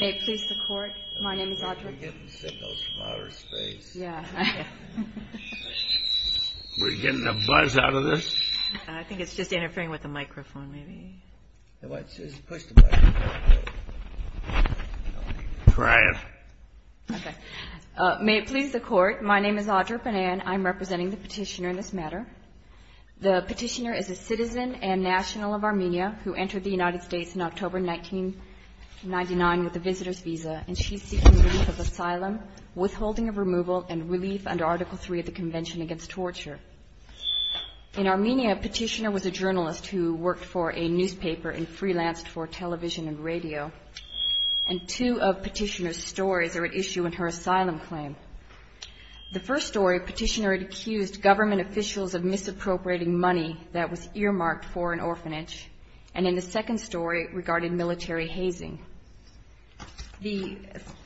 May it please the Court, my name is Audra Goodman. We're getting signals from outer space. We're getting a buzz out of this. I think it's just interfering with the microphone maybe. Try it. Okay. May it please the Court, my name is Audra Banan. I'm representing the petitioner in this matter. The petitioner is a citizen and national of Armenia who entered the United States in October 1999 with a visitor's visa, and she's seeking relief of asylum, withholding of removal, and relief under Article III of the Convention Against Torture. In Armenia, a petitioner was a journalist who worked for a newspaper and freelanced for television and radio, and two of petitioner's stories are at issue in her asylum claim. The first story, a petitioner had accused government officials of misappropriating money that was earmarked for an orphanage, and then the second story regarded military hazing. The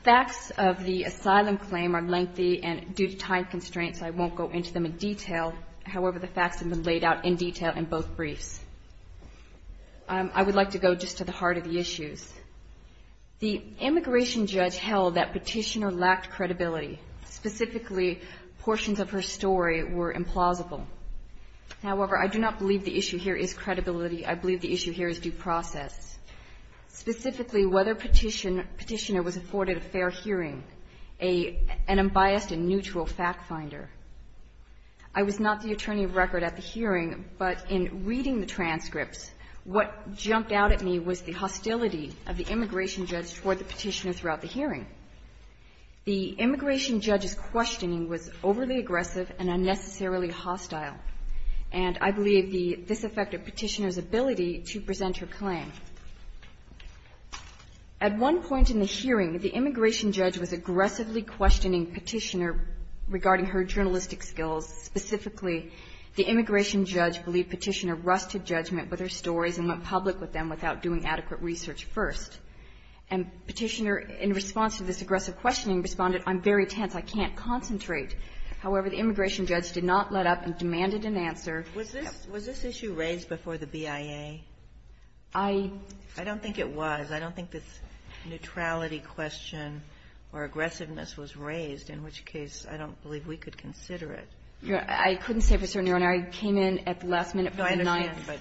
facts of the asylum claim are lengthy and due to time constraints, so I won't go into them in detail. However, the facts have been laid out in detail in both briefs. I would like to go just to the heart of the issues. The immigration judge held that petitioner lacked credibility. Specifically, portions of her story were implausible. However, I do not believe the issue here is credibility. I believe the issue here is due process. Specifically, whether petitioner was afforded a fair hearing, an unbiased and neutral fact finder. I was not the attorney of record at the hearing, but in reading the transcripts, what jumped out at me was the hostility of the immigration judge toward the petitioner throughout the hearing. The immigration judge's questioning was overly aggressive and unnecessarily hostile, and I believe this affected petitioner's ability to present her claim. At one point in the hearing, the immigration judge was aggressively questioning petitioner regarding her journalistic skills. Specifically, the immigration judge believed petitioner rusted judgment with her stories and went public with them without doing adequate research first. And petitioner, in response to this aggressive questioning, responded, I'm very tense. I can't concentrate. However, the immigration judge did not let up and demanded an answer. Was this issue raised before the BIA? I don't think it was. I don't think this neutrality question or aggressiveness was raised, in which case I don't believe we could consider it. I couldn't say for certain, Your Honor. I came in at the last minute for the ninth. No, I understand, but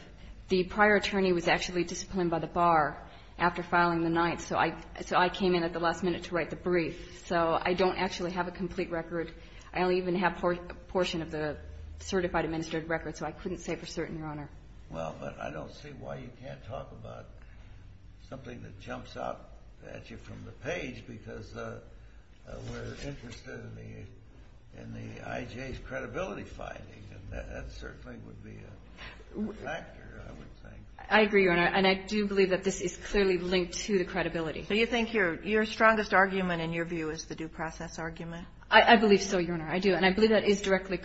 the prior attorney was actually disciplined by the bar after filing the ninth, so I came in at the last minute to write the brief. So I don't actually have a complete record. I don't even have a portion of the certified administrative record, so I couldn't say for certain, Your Honor. Well, but I don't see why you can't talk about something that jumps out at you from the page, because we're interested in the IJ's credibility finding, and that certainly would be a factor, I would think. I agree, Your Honor, and I do believe that this is clearly linked to the credibility. So you think your strongest argument in your view is the due process argument? I believe so, Your Honor. I do. And I believe that it directly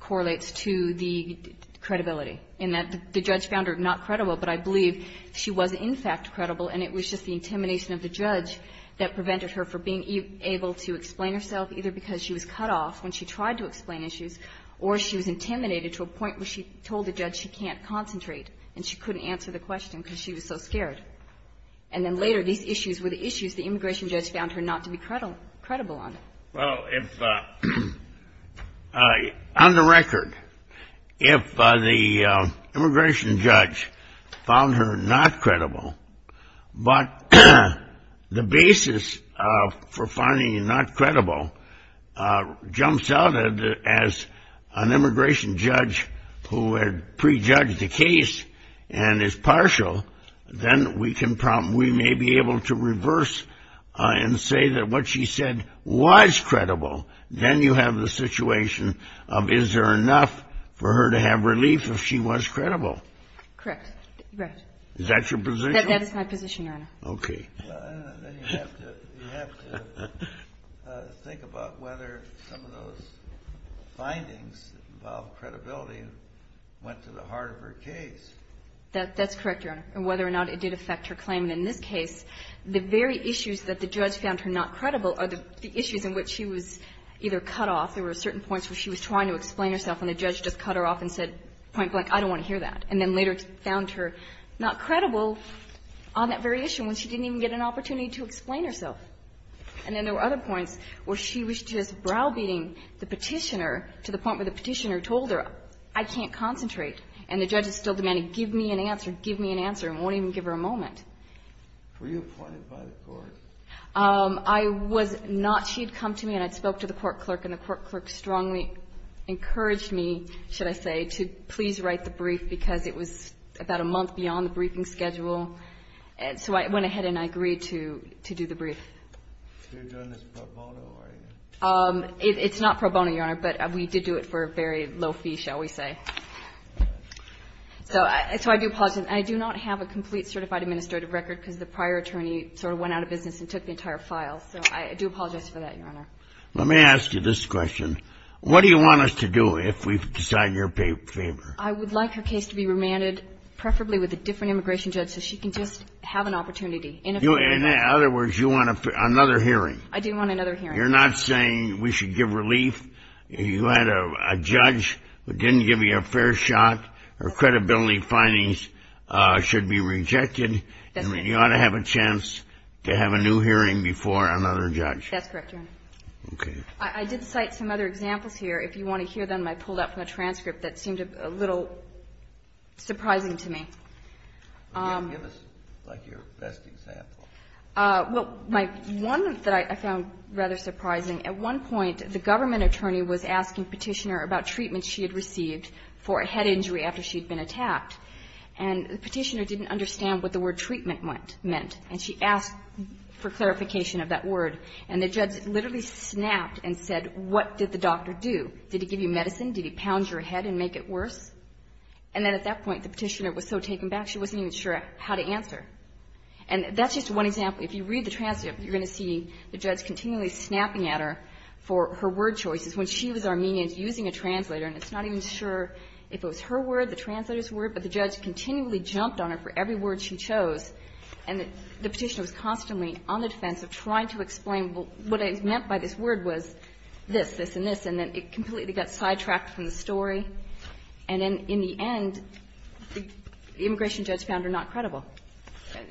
correlates to the credibility, in that the judge found her not credible, but I believe she was, in fact, credible, and it was just the intimidation of the judge that prevented her from being able to explain herself, either because she was cut off when she tried to explain issues or she was intimidated to a point where she told the judge she can't concentrate and she couldn't answer the question because she was so scared. And then later, these issues were the issues the immigration judge found her not to be credible on. Well, on the record, if the immigration judge found her not credible, but the basis for an immigration judge who had prejudged the case and is partial, then we may be able to reverse and say that what she said was credible. Then you have the situation of is there enough for her to have relief if she was credible? Correct. Is that your position? That is my position, Your Honor. Okay. Well, then you have to think about whether some of those findings that involve credibility went to the heart of her case. That's correct, Your Honor, and whether or not it did affect her claim. In this case, the very issues that the judge found her not credible are the issues in which she was either cut off. There were certain points where she was trying to explain herself and the judge just cut her off and said, point blank, I don't want to hear that, and then later found her not credible on that very issue when she didn't even get an opportunity to explain herself. And then there were other points where she was just browbeating the Petitioner to the point where the Petitioner told her, I can't concentrate, and the judge is still demanding, give me an answer, give me an answer, and won't even give her a moment. Were you appointed by the court? I was not. She had come to me and I spoke to the court clerk and the court clerk strongly encouraged me, should I say, to please write the brief because it was about a month beyond the briefing schedule. So I went ahead and I agreed to do the brief. You're doing this pro bono, are you? It's not pro bono, Your Honor, but we did do it for a very low fee, shall we say. So I do apologize. I do not have a complete certified administrative record because the prior attorney sort of went out of business and took the entire file. So I do apologize for that, Your Honor. Let me ask you this question. What do you want us to do if we decide you're in favor? I would like her case to be remanded, preferably with a different immigration judge so she can just have an opportunity. In other words, you want another hearing. I do want another hearing. You're not saying we should give relief? You had a judge who didn't give you a fair shot, her credibility findings should be rejected. That's correct. You ought to have a chance to have a new hearing before another judge. That's correct, Your Honor. Okay. I did cite some other examples here. If you want to hear them, I pulled up a transcript that seemed a little surprising to me. Give us, like, your best example. Well, one that I found rather surprising, at one point the government attorney was asking Petitioner about treatment she had received for a head injury after she had been attacked. And the Petitioner didn't understand what the word treatment meant. And she asked for clarification of that word. And the judge literally snapped and said, what did the doctor do? Did he give you medicine? Did he pound your head and make it worse? And then at that point, the Petitioner was so taken back, she wasn't even sure how to answer. And that's just one example. If you read the transcript, you're going to see the judge continually snapping at her for her word choices. When she was Armenian, using a translator, and it's not even sure if it was her word, the translator's word, but the judge continually jumped on it for every word she chose. And the Petitioner was constantly on the defense of trying to explain what it meant by this word was this, this, and this. And then it completely got sidetracked from the story. And then in the end, the immigration judge found her not credible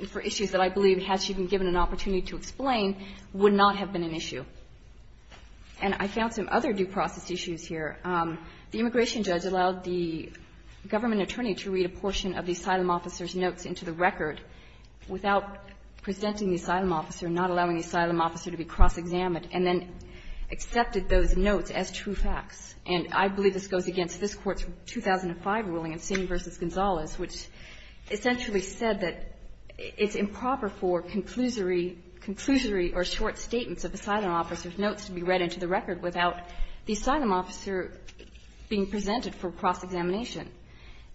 for issues that I believe, had she been given an opportunity to explain, would not have been an issue. And I found some other due process issues here. The immigration judge allowed the government attorney to read a portion of the asylum officer's notes into the record without presenting the asylum officer, not allowing the asylum officer to be cross-examined, and then accepted those notes as true facts. And I believe this goes against this Court's 2005 ruling in Singh v. Gonzales, which essentially said that it's improper for conclusory or short statements of asylum officer's notes to be read into the record without the asylum officer being presented for cross-examination.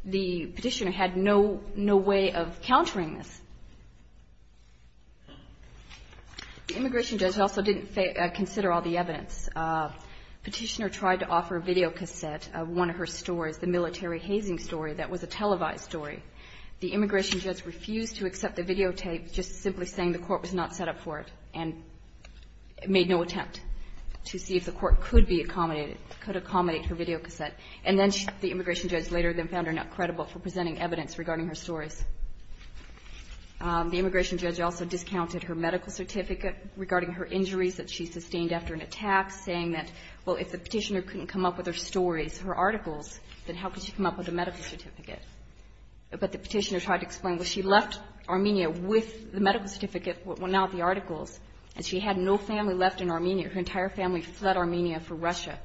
The Petitioner had no way of countering this. The immigration judge also didn't consider all the evidence. Petitioner tried to offer videocassette of one of her stories, the military hazing story that was a televised story. The immigration judge refused to accept the videotape, just simply saying the Court was not set up for it, and made no attempt to see if the Court could be accommodated, could accommodate her videocassette. And then the immigration judge later then found her not credible for presenting evidence regarding her stories. The immigration judge also discounted her medical certificate regarding her injuries that she sustained after an attack, saying that, well, if the Petitioner couldn't come up with her stories, her articles, then how could she come up with a medical certificate? But the Petitioner tried to explain, well, she left Armenia with the medical certificate, well, not the articles, and she had no family left in Armenia. Her entire family fled Armenia for Russia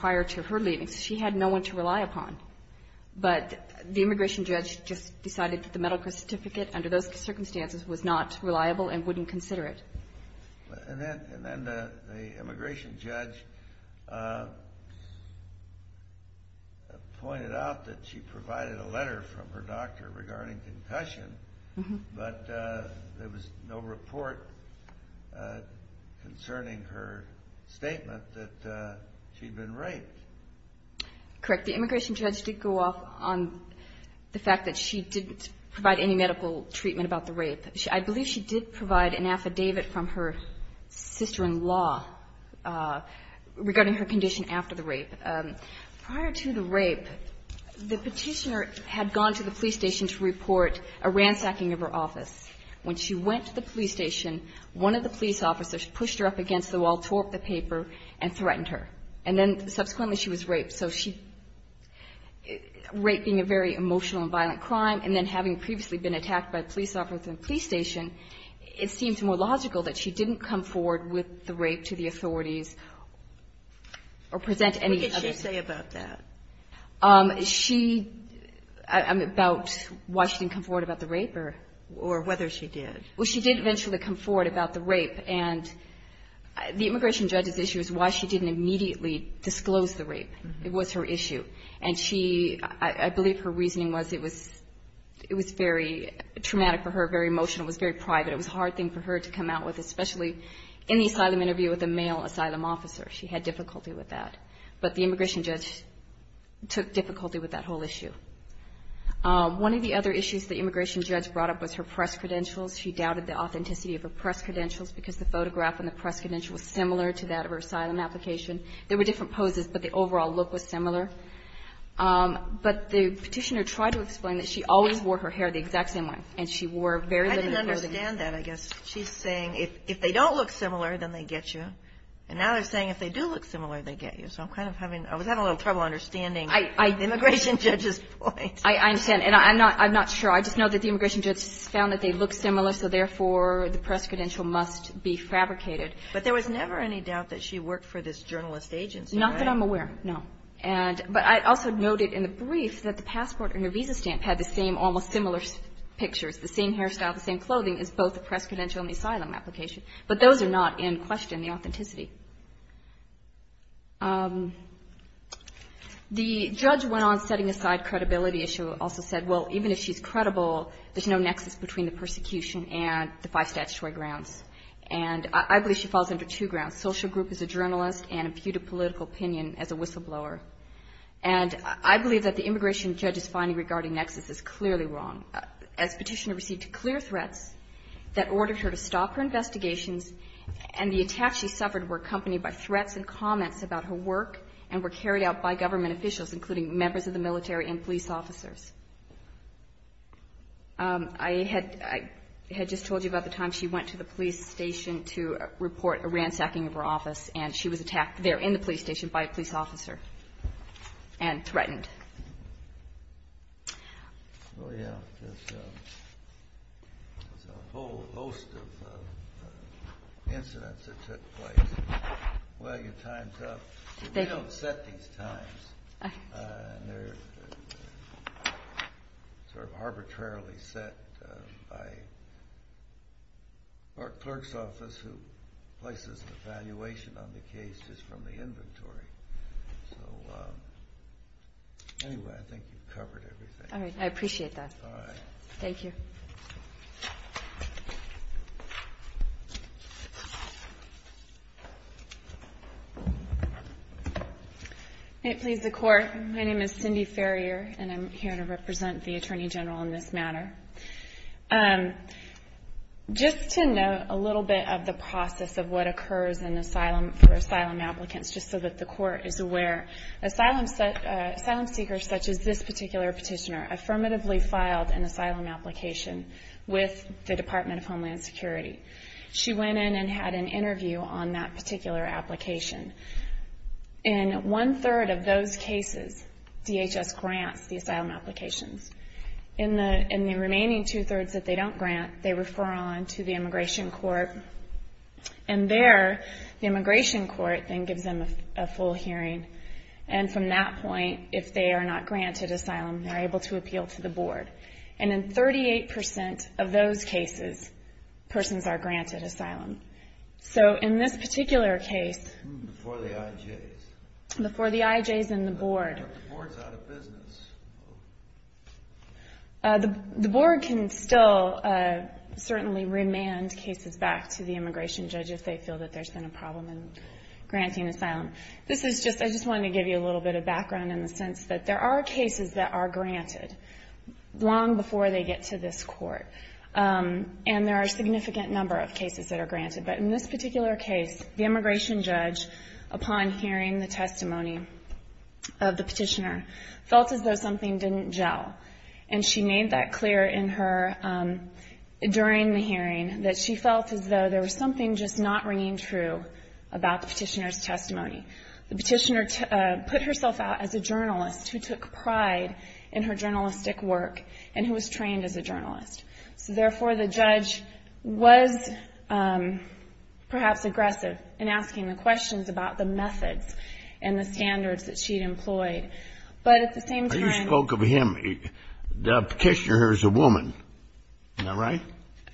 prior to her leaving, so she had no one to rely upon. But the immigration judge just decided that the medical certificate, under those circumstances, was not reliable and wouldn't consider it. And then the immigration judge pointed out that she provided a letter from her doctor regarding concussion, but there was no report concerning her statement that she'd been raped. Correct. The immigration judge did go off on the fact that she didn't provide any medical treatment about the rape. I believe she did provide an affidavit from her sister-in-law regarding her condition after the rape. Prior to the rape, the Petitioner had gone to the police station to report a ransacking of her office. When she went to the police station, one of the police officers pushed her up against the wall, tore up the paper, and threatened her. And then subsequently she was raped. So she raped being a very emotional and violent crime, and then having previously been attacked by a police officer in a police station, it seems more logical that What did she say about that? About why she didn't come forward about the rape? Or whether she did. Well, she did eventually come forward about the rape. And the immigration judge's issue is why she didn't immediately disclose the rape. It was her issue. And she – I believe her reasoning was it was very traumatic for her, very emotional. It was very private. It was a hard thing for her to come out with, especially in the asylum interview with a male asylum officer. She had difficulty with that. But the immigration judge took difficulty with that whole issue. One of the other issues the immigration judge brought up was her press credentials. She doubted the authenticity of her press credentials because the photograph and the press credentials were similar to that of her asylum application. There were different poses, but the overall look was similar. But the Petitioner tried to explain that she always wore her hair the exact same way, and she wore very little clothing. I didn't understand that, I guess. She's saying if they don't look similar, then they get you. And now they're saying if they do look similar, they get you. So I'm kind of having – I was having a little trouble understanding the immigration judge's point. I understand. And I'm not – I'm not sure. I just know that the immigration judge found that they look similar, so therefore the press credential must be fabricated. But there was never any doubt that she worked for this journalist agency, right? Not that I'm aware, no. And – but I also noted in the brief that the passport and the visa stamp had the same, almost similar pictures, the same hairstyle, the same clothing as both the press credential and the asylum application. But those are not in question, the authenticity. The judge went on setting aside credibility, as she also said. Well, even if she's credible, there's no nexus between the persecution and the five statutory grounds. And I believe she falls under two grounds, social group as a journalist and imputed political opinion as a whistleblower. And I believe that the immigration judge's finding regarding nexus is clearly wrong. As Petitioner received clear threats that ordered her to stop her investigations and the attacks she suffered were accompanied by threats and comments about her work and were carried out by government officials, including members of the military and police officers. I had – I had just told you about the time she went to the police station to report a ransacking of her office, and she was attacked there in the police station by a police officer and threatened. Well, yeah. There's a whole host of incidents that took place. Well, your time's up. We don't set these times. They're sort of arbitrarily set by our clerk's office, who places an evaluation on the case just from the inventory. So anyway, I think you've covered everything. All right. I appreciate that. All right. Thank you. May it please the Court, my name is Cindy Farrier, and I'm here to represent the Attorney General in this matter. Just to note a little bit of the process of what occurs in asylum – for asylum seekers such as this particular petitioner affirmatively filed an asylum application with the Department of Homeland Security. She went in and had an interview on that particular application. In one-third of those cases, DHS grants the asylum applications. In the remaining two-thirds that they don't grant, they refer on to the immigration court, and there, the immigration court then gives them a full hearing. And from that point, if they are not granted asylum, they're able to appeal to the board. And in 38% of those cases, persons are granted asylum. So in this particular case – Before the IJs. Before the IJs and the board. The board's out of business. The board can still certainly remand cases back to the immigration judge if they feel that there's been a problem in granting asylum. This is just – I just wanted to give you a little bit of background in the sense that there are cases that are granted long before they get to this court. And there are a significant number of cases that are granted. But in this particular case, the immigration judge, upon hearing the testimony of the petitioner, felt as though something didn't gel. And she made that clear in her – during the hearing, that she felt as though there was something just not ringing true about the petitioner's testimony. The petitioner put herself out as a journalist who took pride in her journalistic work and who was trained as a journalist. So therefore, the judge was perhaps aggressive in asking the questions about the methods and the standards that she'd employed. But at the same time – You spoke of him. The petitioner is a woman. Am I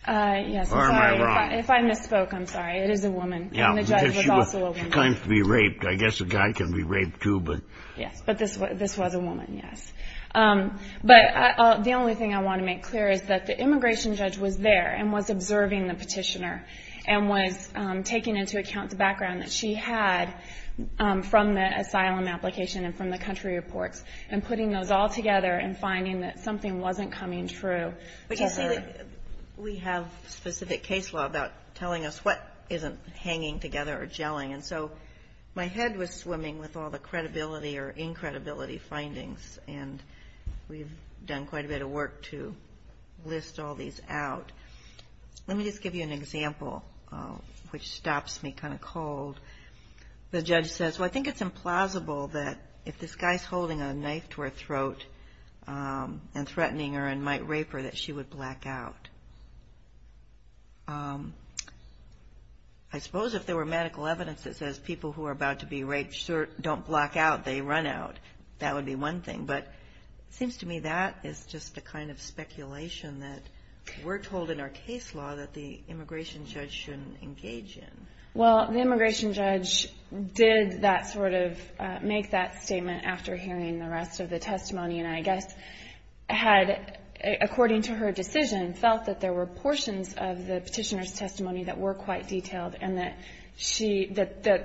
right? Yes, I'm sorry. Or am I wrong? If I misspoke, I'm sorry. It is a woman. And the judge was also a woman. She claims to be raped. I guess a guy can be raped too, but – Yes, but this was a woman, yes. But the only thing I want to make clear is that the immigration judge was there and was observing the petitioner and was taking into account the background that she had from the asylum application and from the country reports and putting those all together and finding that something wasn't coming true. But you see, we have specific case law about telling us what isn't hanging together or gelling. And so my head was swimming with all the credibility or incredibility findings, and we've done quite a bit of work to list all these out. Let me just give you an example, which stops me kind of cold. The judge says, well, I think it's implausible that if this guy is holding a knife to her throat and threatening her and might rape her, that she would black out. I suppose if there were medical evidence that says people who are about to be raped don't black out, they run out, that would be one thing. But it seems to me that is just the kind of speculation that we're told in our case law that the immigration judge shouldn't engage in. Well, the immigration judge did make that statement after hearing the rest of the testimony, and I guess had, according to her decision, felt that there were portions of the petitioner's testimony that were quite detailed and that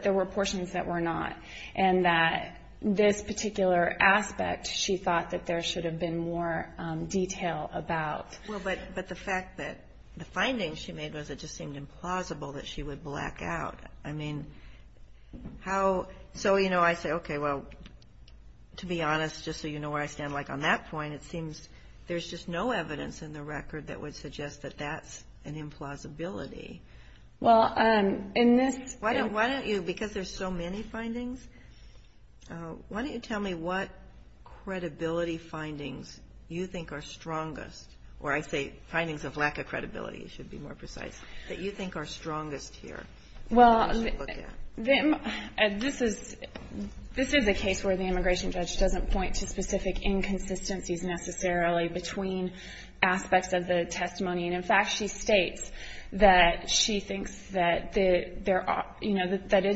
there were portions that were not, and that this particular aspect she thought that there should have been more detail about. Well, but the fact that the findings she made was it just seemed implausible that she would black out. I mean, how? So, you know, I say, okay, well, to be honest, just so you know where I stand, like on that point, it seems there's just no evidence in the record that would suggest that that's an implausibility. Well, in this -- Why don't you, because there's so many findings, why don't you tell me what credibility findings you think are strongest, or I say findings of lack of credibility, it should be more precise, that you think are strongest here? Well, this is a case where the immigration judge doesn't point to specific inconsistencies necessarily between aspects of the testimony. In fact, she states that she thinks that it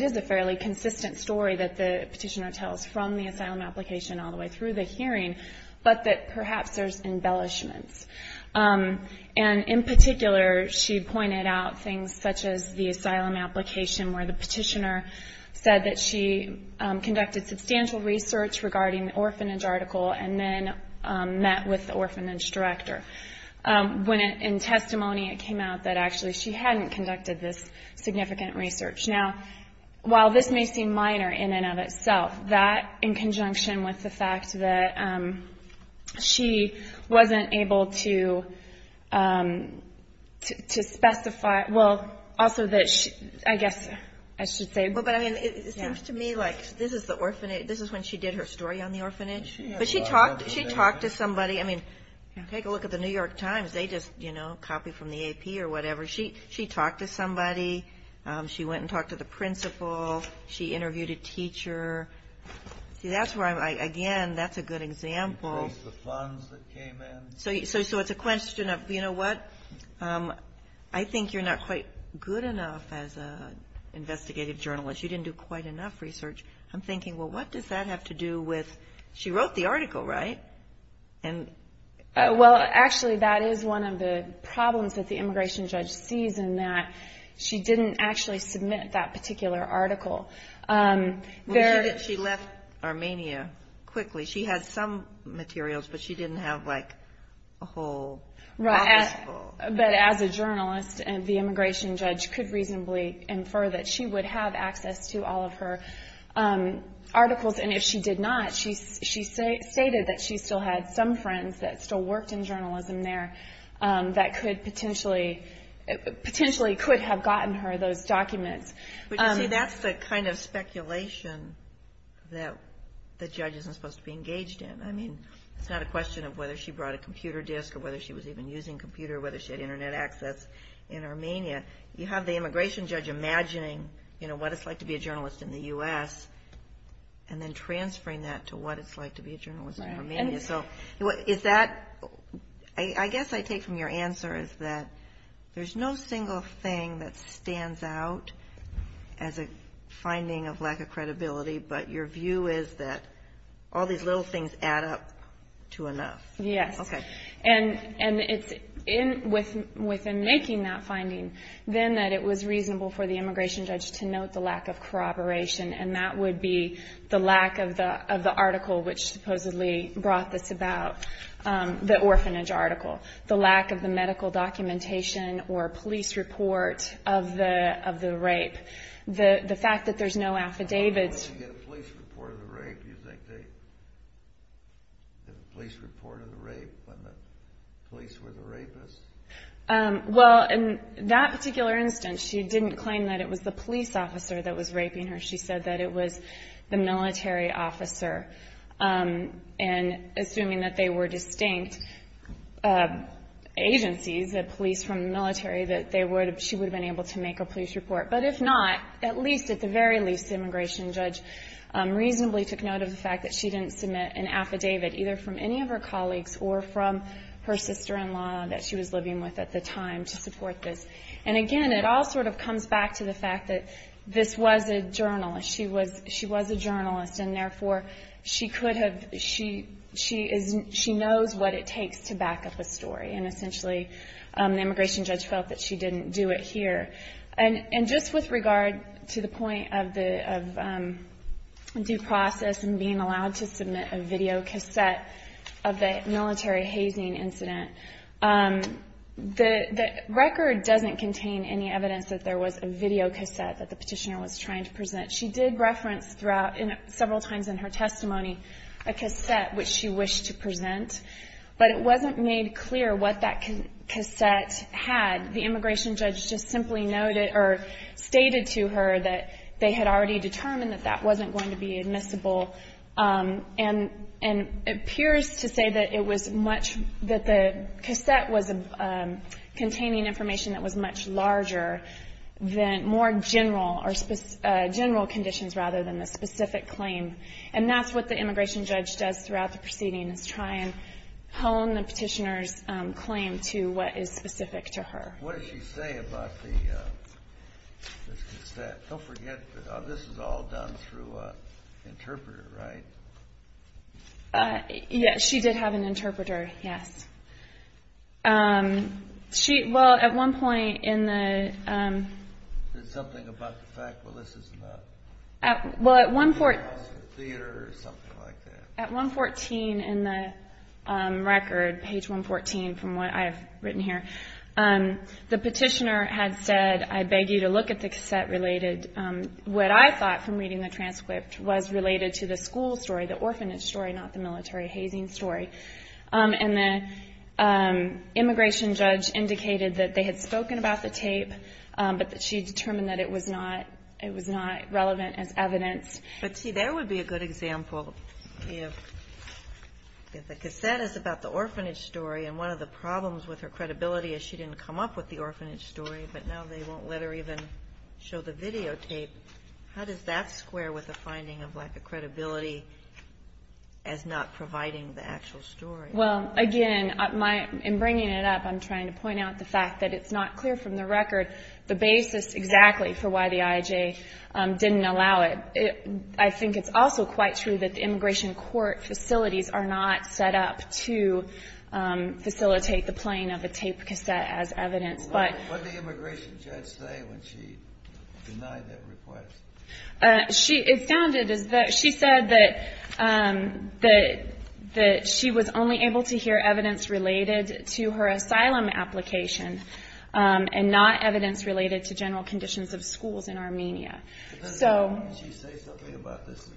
is a fairly consistent story that the petitioner tells from the asylum application all the way through the hearing, but that perhaps there's embellishments. And in particular, she pointed out things such as the asylum application where the petitioner said that she conducted substantial research regarding the orphanage article and then met with the orphanage director. When in testimony it came out that actually she hadn't conducted this significant research. Now, while this may seem minor in and of itself, that in conjunction with the fact that she wasn't able to specify, well, also that she, I guess I should say- Well, but I mean, it seems to me like this is the orphanage, this is when she did her story on the orphanage. But she talked to somebody. I mean, take a look at the New York Times. They just, you know, copied from the AP or whatever. She talked to somebody. She went and talked to the principal. She interviewed a teacher. See, that's where I'm, again, that's a good example. The funds that came in. So it's a question of, you know what, I think you're not quite good enough as an investigative journalist. You didn't do quite enough research. I'm thinking, well, what does that have to do with- Well, actually, that is one of the problems that the immigration judge sees in that she didn't actually submit that particular article. She left Armenia quickly. She had some materials, but she didn't have, like, a whole office full. But as a journalist, the immigration judge could reasonably infer that she would have access to all of her articles. And if she did not, she stated that she still had some friends that still worked in journalism there that potentially could have gotten her those documents. But, you see, that's the kind of speculation that the judge isn't supposed to be engaged in. I mean, it's not a question of whether she brought a computer disk or whether she was even using a computer or whether she had Internet access in Armenia. You have the immigration judge imagining, you know, what it's like to be a journalist in the U.S. and then transferring that to what it's like to be a journalist in Armenia. So is that-I guess I take from your answer is that there's no single thing that stands out as a finding of lack of credibility, but your view is that all these little things add up to enough. Yes. Okay. And it's within making that finding then that it was reasonable for the immigration judge to note the lack of corroboration, and that would be the lack of the article which supposedly brought this about, the orphanage article, the lack of the medical documentation or police report of the rape. The fact that there's no affidavits- When did you get a police report of the rape? Do you think they did a police report of the rape when the police were the rapists? Well, in that particular instance, she didn't claim that it was the police officer that was raping her. She said that it was the military officer. And assuming that they were distinct agencies, the police from the military, that they would have-she would have been able to make a police report. But if not, at least at the very least, the immigration judge reasonably took note of the fact that she didn't submit an affidavit either from any of her colleagues or from her sister-in-law that she was living with at the time to support this. And again, it all sort of comes back to the fact that this was a journalist. She was a journalist, and therefore, she knows what it takes to back up a story. And essentially, the immigration judge felt that she didn't do it here. And just with regard to the point of due process and being allowed to submit a videocassette of the military hazing incident, the record doesn't contain any evidence that there was a videocassette that the petitioner was trying to present. She did reference throughout several times in her testimony a cassette which she wished to present, but it wasn't made clear what that cassette had. The immigration judge just simply noted or stated to her that they had already determined that that wasn't going to be admissible and appears to say that it was much that the cassette was containing information that was much larger than more general or general conditions rather than a specific claim. And that's what the immigration judge does throughout the proceeding is try and hone the petitioner's claim to what is specific to her. What did she say about the cassette? Don't forget, this is all done through an interpreter, right? Yes, she did have an interpreter, yes. Well, at one point in the... Did something about the fact that this is not... Well, at one point... Theater or something like that. At 114 in the record, page 114 from what I have written here, the petitioner had said, I beg you to look at the cassette related... What I thought from reading the transcript was related to the school story, the orphanage story, not the military hazing story. And the immigration judge indicated that they had spoken about the tape, but that she determined that it was not relevant as evidence. But see, there would be a good example if the cassette is about the orphanage story and one of the problems with her credibility is she didn't come up with the orphanage story, but now they won't let her even show the videotape. How does that square with the finding of lack of credibility as not providing the actual story? Well, again, in bringing it up, I'm trying to point out the fact that it's not clear from the record the basis exactly for why the IJ didn't allow it. I think it's also quite true that the immigration court facilities are not set up to facilitate the playing of a tape cassette as evidence. What did the immigration judge say when she denied that request? It sounded as though she said that she was only able to hear evidence related to her asylum application and not evidence related to general conditions of schools in Armenia. Does she say something about this?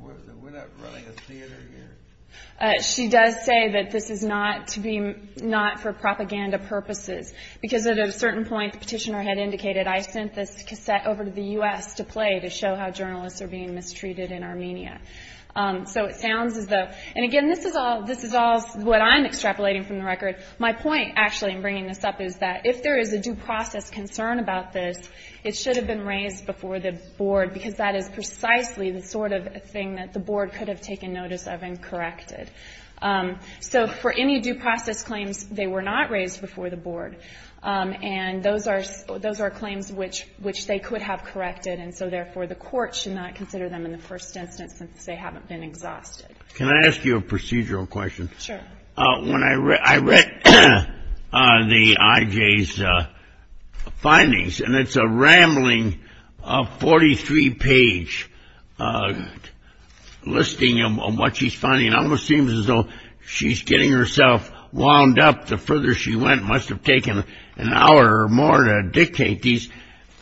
We're not running a theater here. She does say that this is not for propaganda purposes because at a certain point the petitioner had indicated, I sent this cassette over to the U.S. to play to show how journalists are being mistreated in Armenia. And again, this is all what I'm extrapolating from the record. My point, actually, in bringing this up is that if there is a due process concern about this, it should have been raised before the board because that is precisely the sort of thing that the board could have taken notice of and corrected. So for any due process claims, they were not raised before the board. And those are claims which they could have corrected, and so therefore the court should not consider them in the first instance since they haven't been exhausted. Can I ask you a procedural question? Sure. I read the IJ's findings, and it's a rambling 43-page listing of what she's finding. It almost seems as though she's getting herself wound up. The further she went, it must have taken an hour or more to dictate these.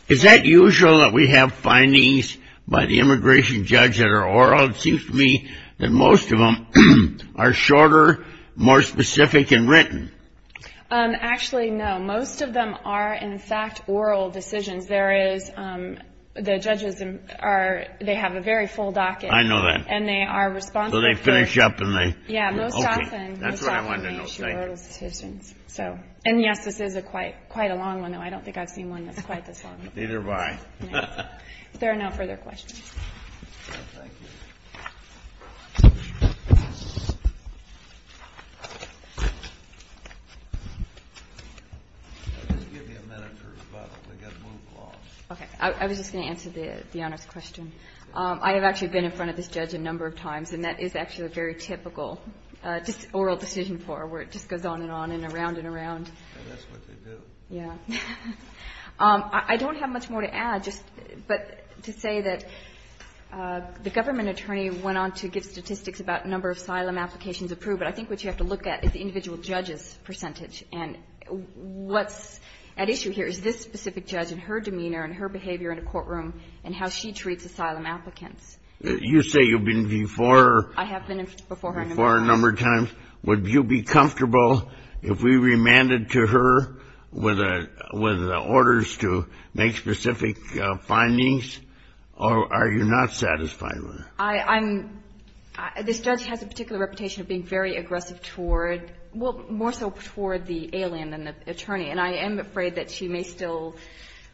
Is that usual that we have findings by the immigration judge that are oral? Well, it seems to me that most of them are shorter, more specific, and written. Actually, no. Most of them are, in fact, oral decisions. There is the judges are they have a very full docket. I know that. And they are responsible for it. So they finish up and they... Yeah, most often... That's what I wanted to know. Thank you. And, yes, this is quite a long one, though. I don't think I've seen one that's quite this long. Neither have I. If there are no further questions. Thank you. Just give me a minute to respond. I got moved along. Okay. I was just going to answer the Honor's question. I have actually been in front of this judge a number of times, and that is actually a very typical oral decision for her, where it just goes on and on and around and around. And that's what they do. Yeah. I don't have much more to add, but to say that the government attorney went on to give statistics about number of asylum applications approved, but I think what you have to look at is the individual judge's percentage. And what's at issue here is this specific judge and her demeanor and her behavior in a courtroom and how she treats asylum applicants. You say you've been before. I have been before her a number of times. Would you be comfortable if we remanded to her with orders to make specific findings, or are you not satisfied with it? I'm ‑‑ this judge has a particular reputation of being very aggressive toward, well, more so toward the alien than the attorney. And I am afraid that she may still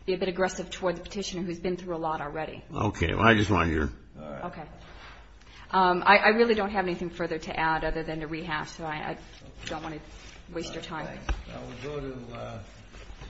be a bit aggressive toward the petitioner who's been through a lot already. Okay. I just want to hear. Okay. I really don't have anything further to add other than to rehash. So I don't want to waste your time.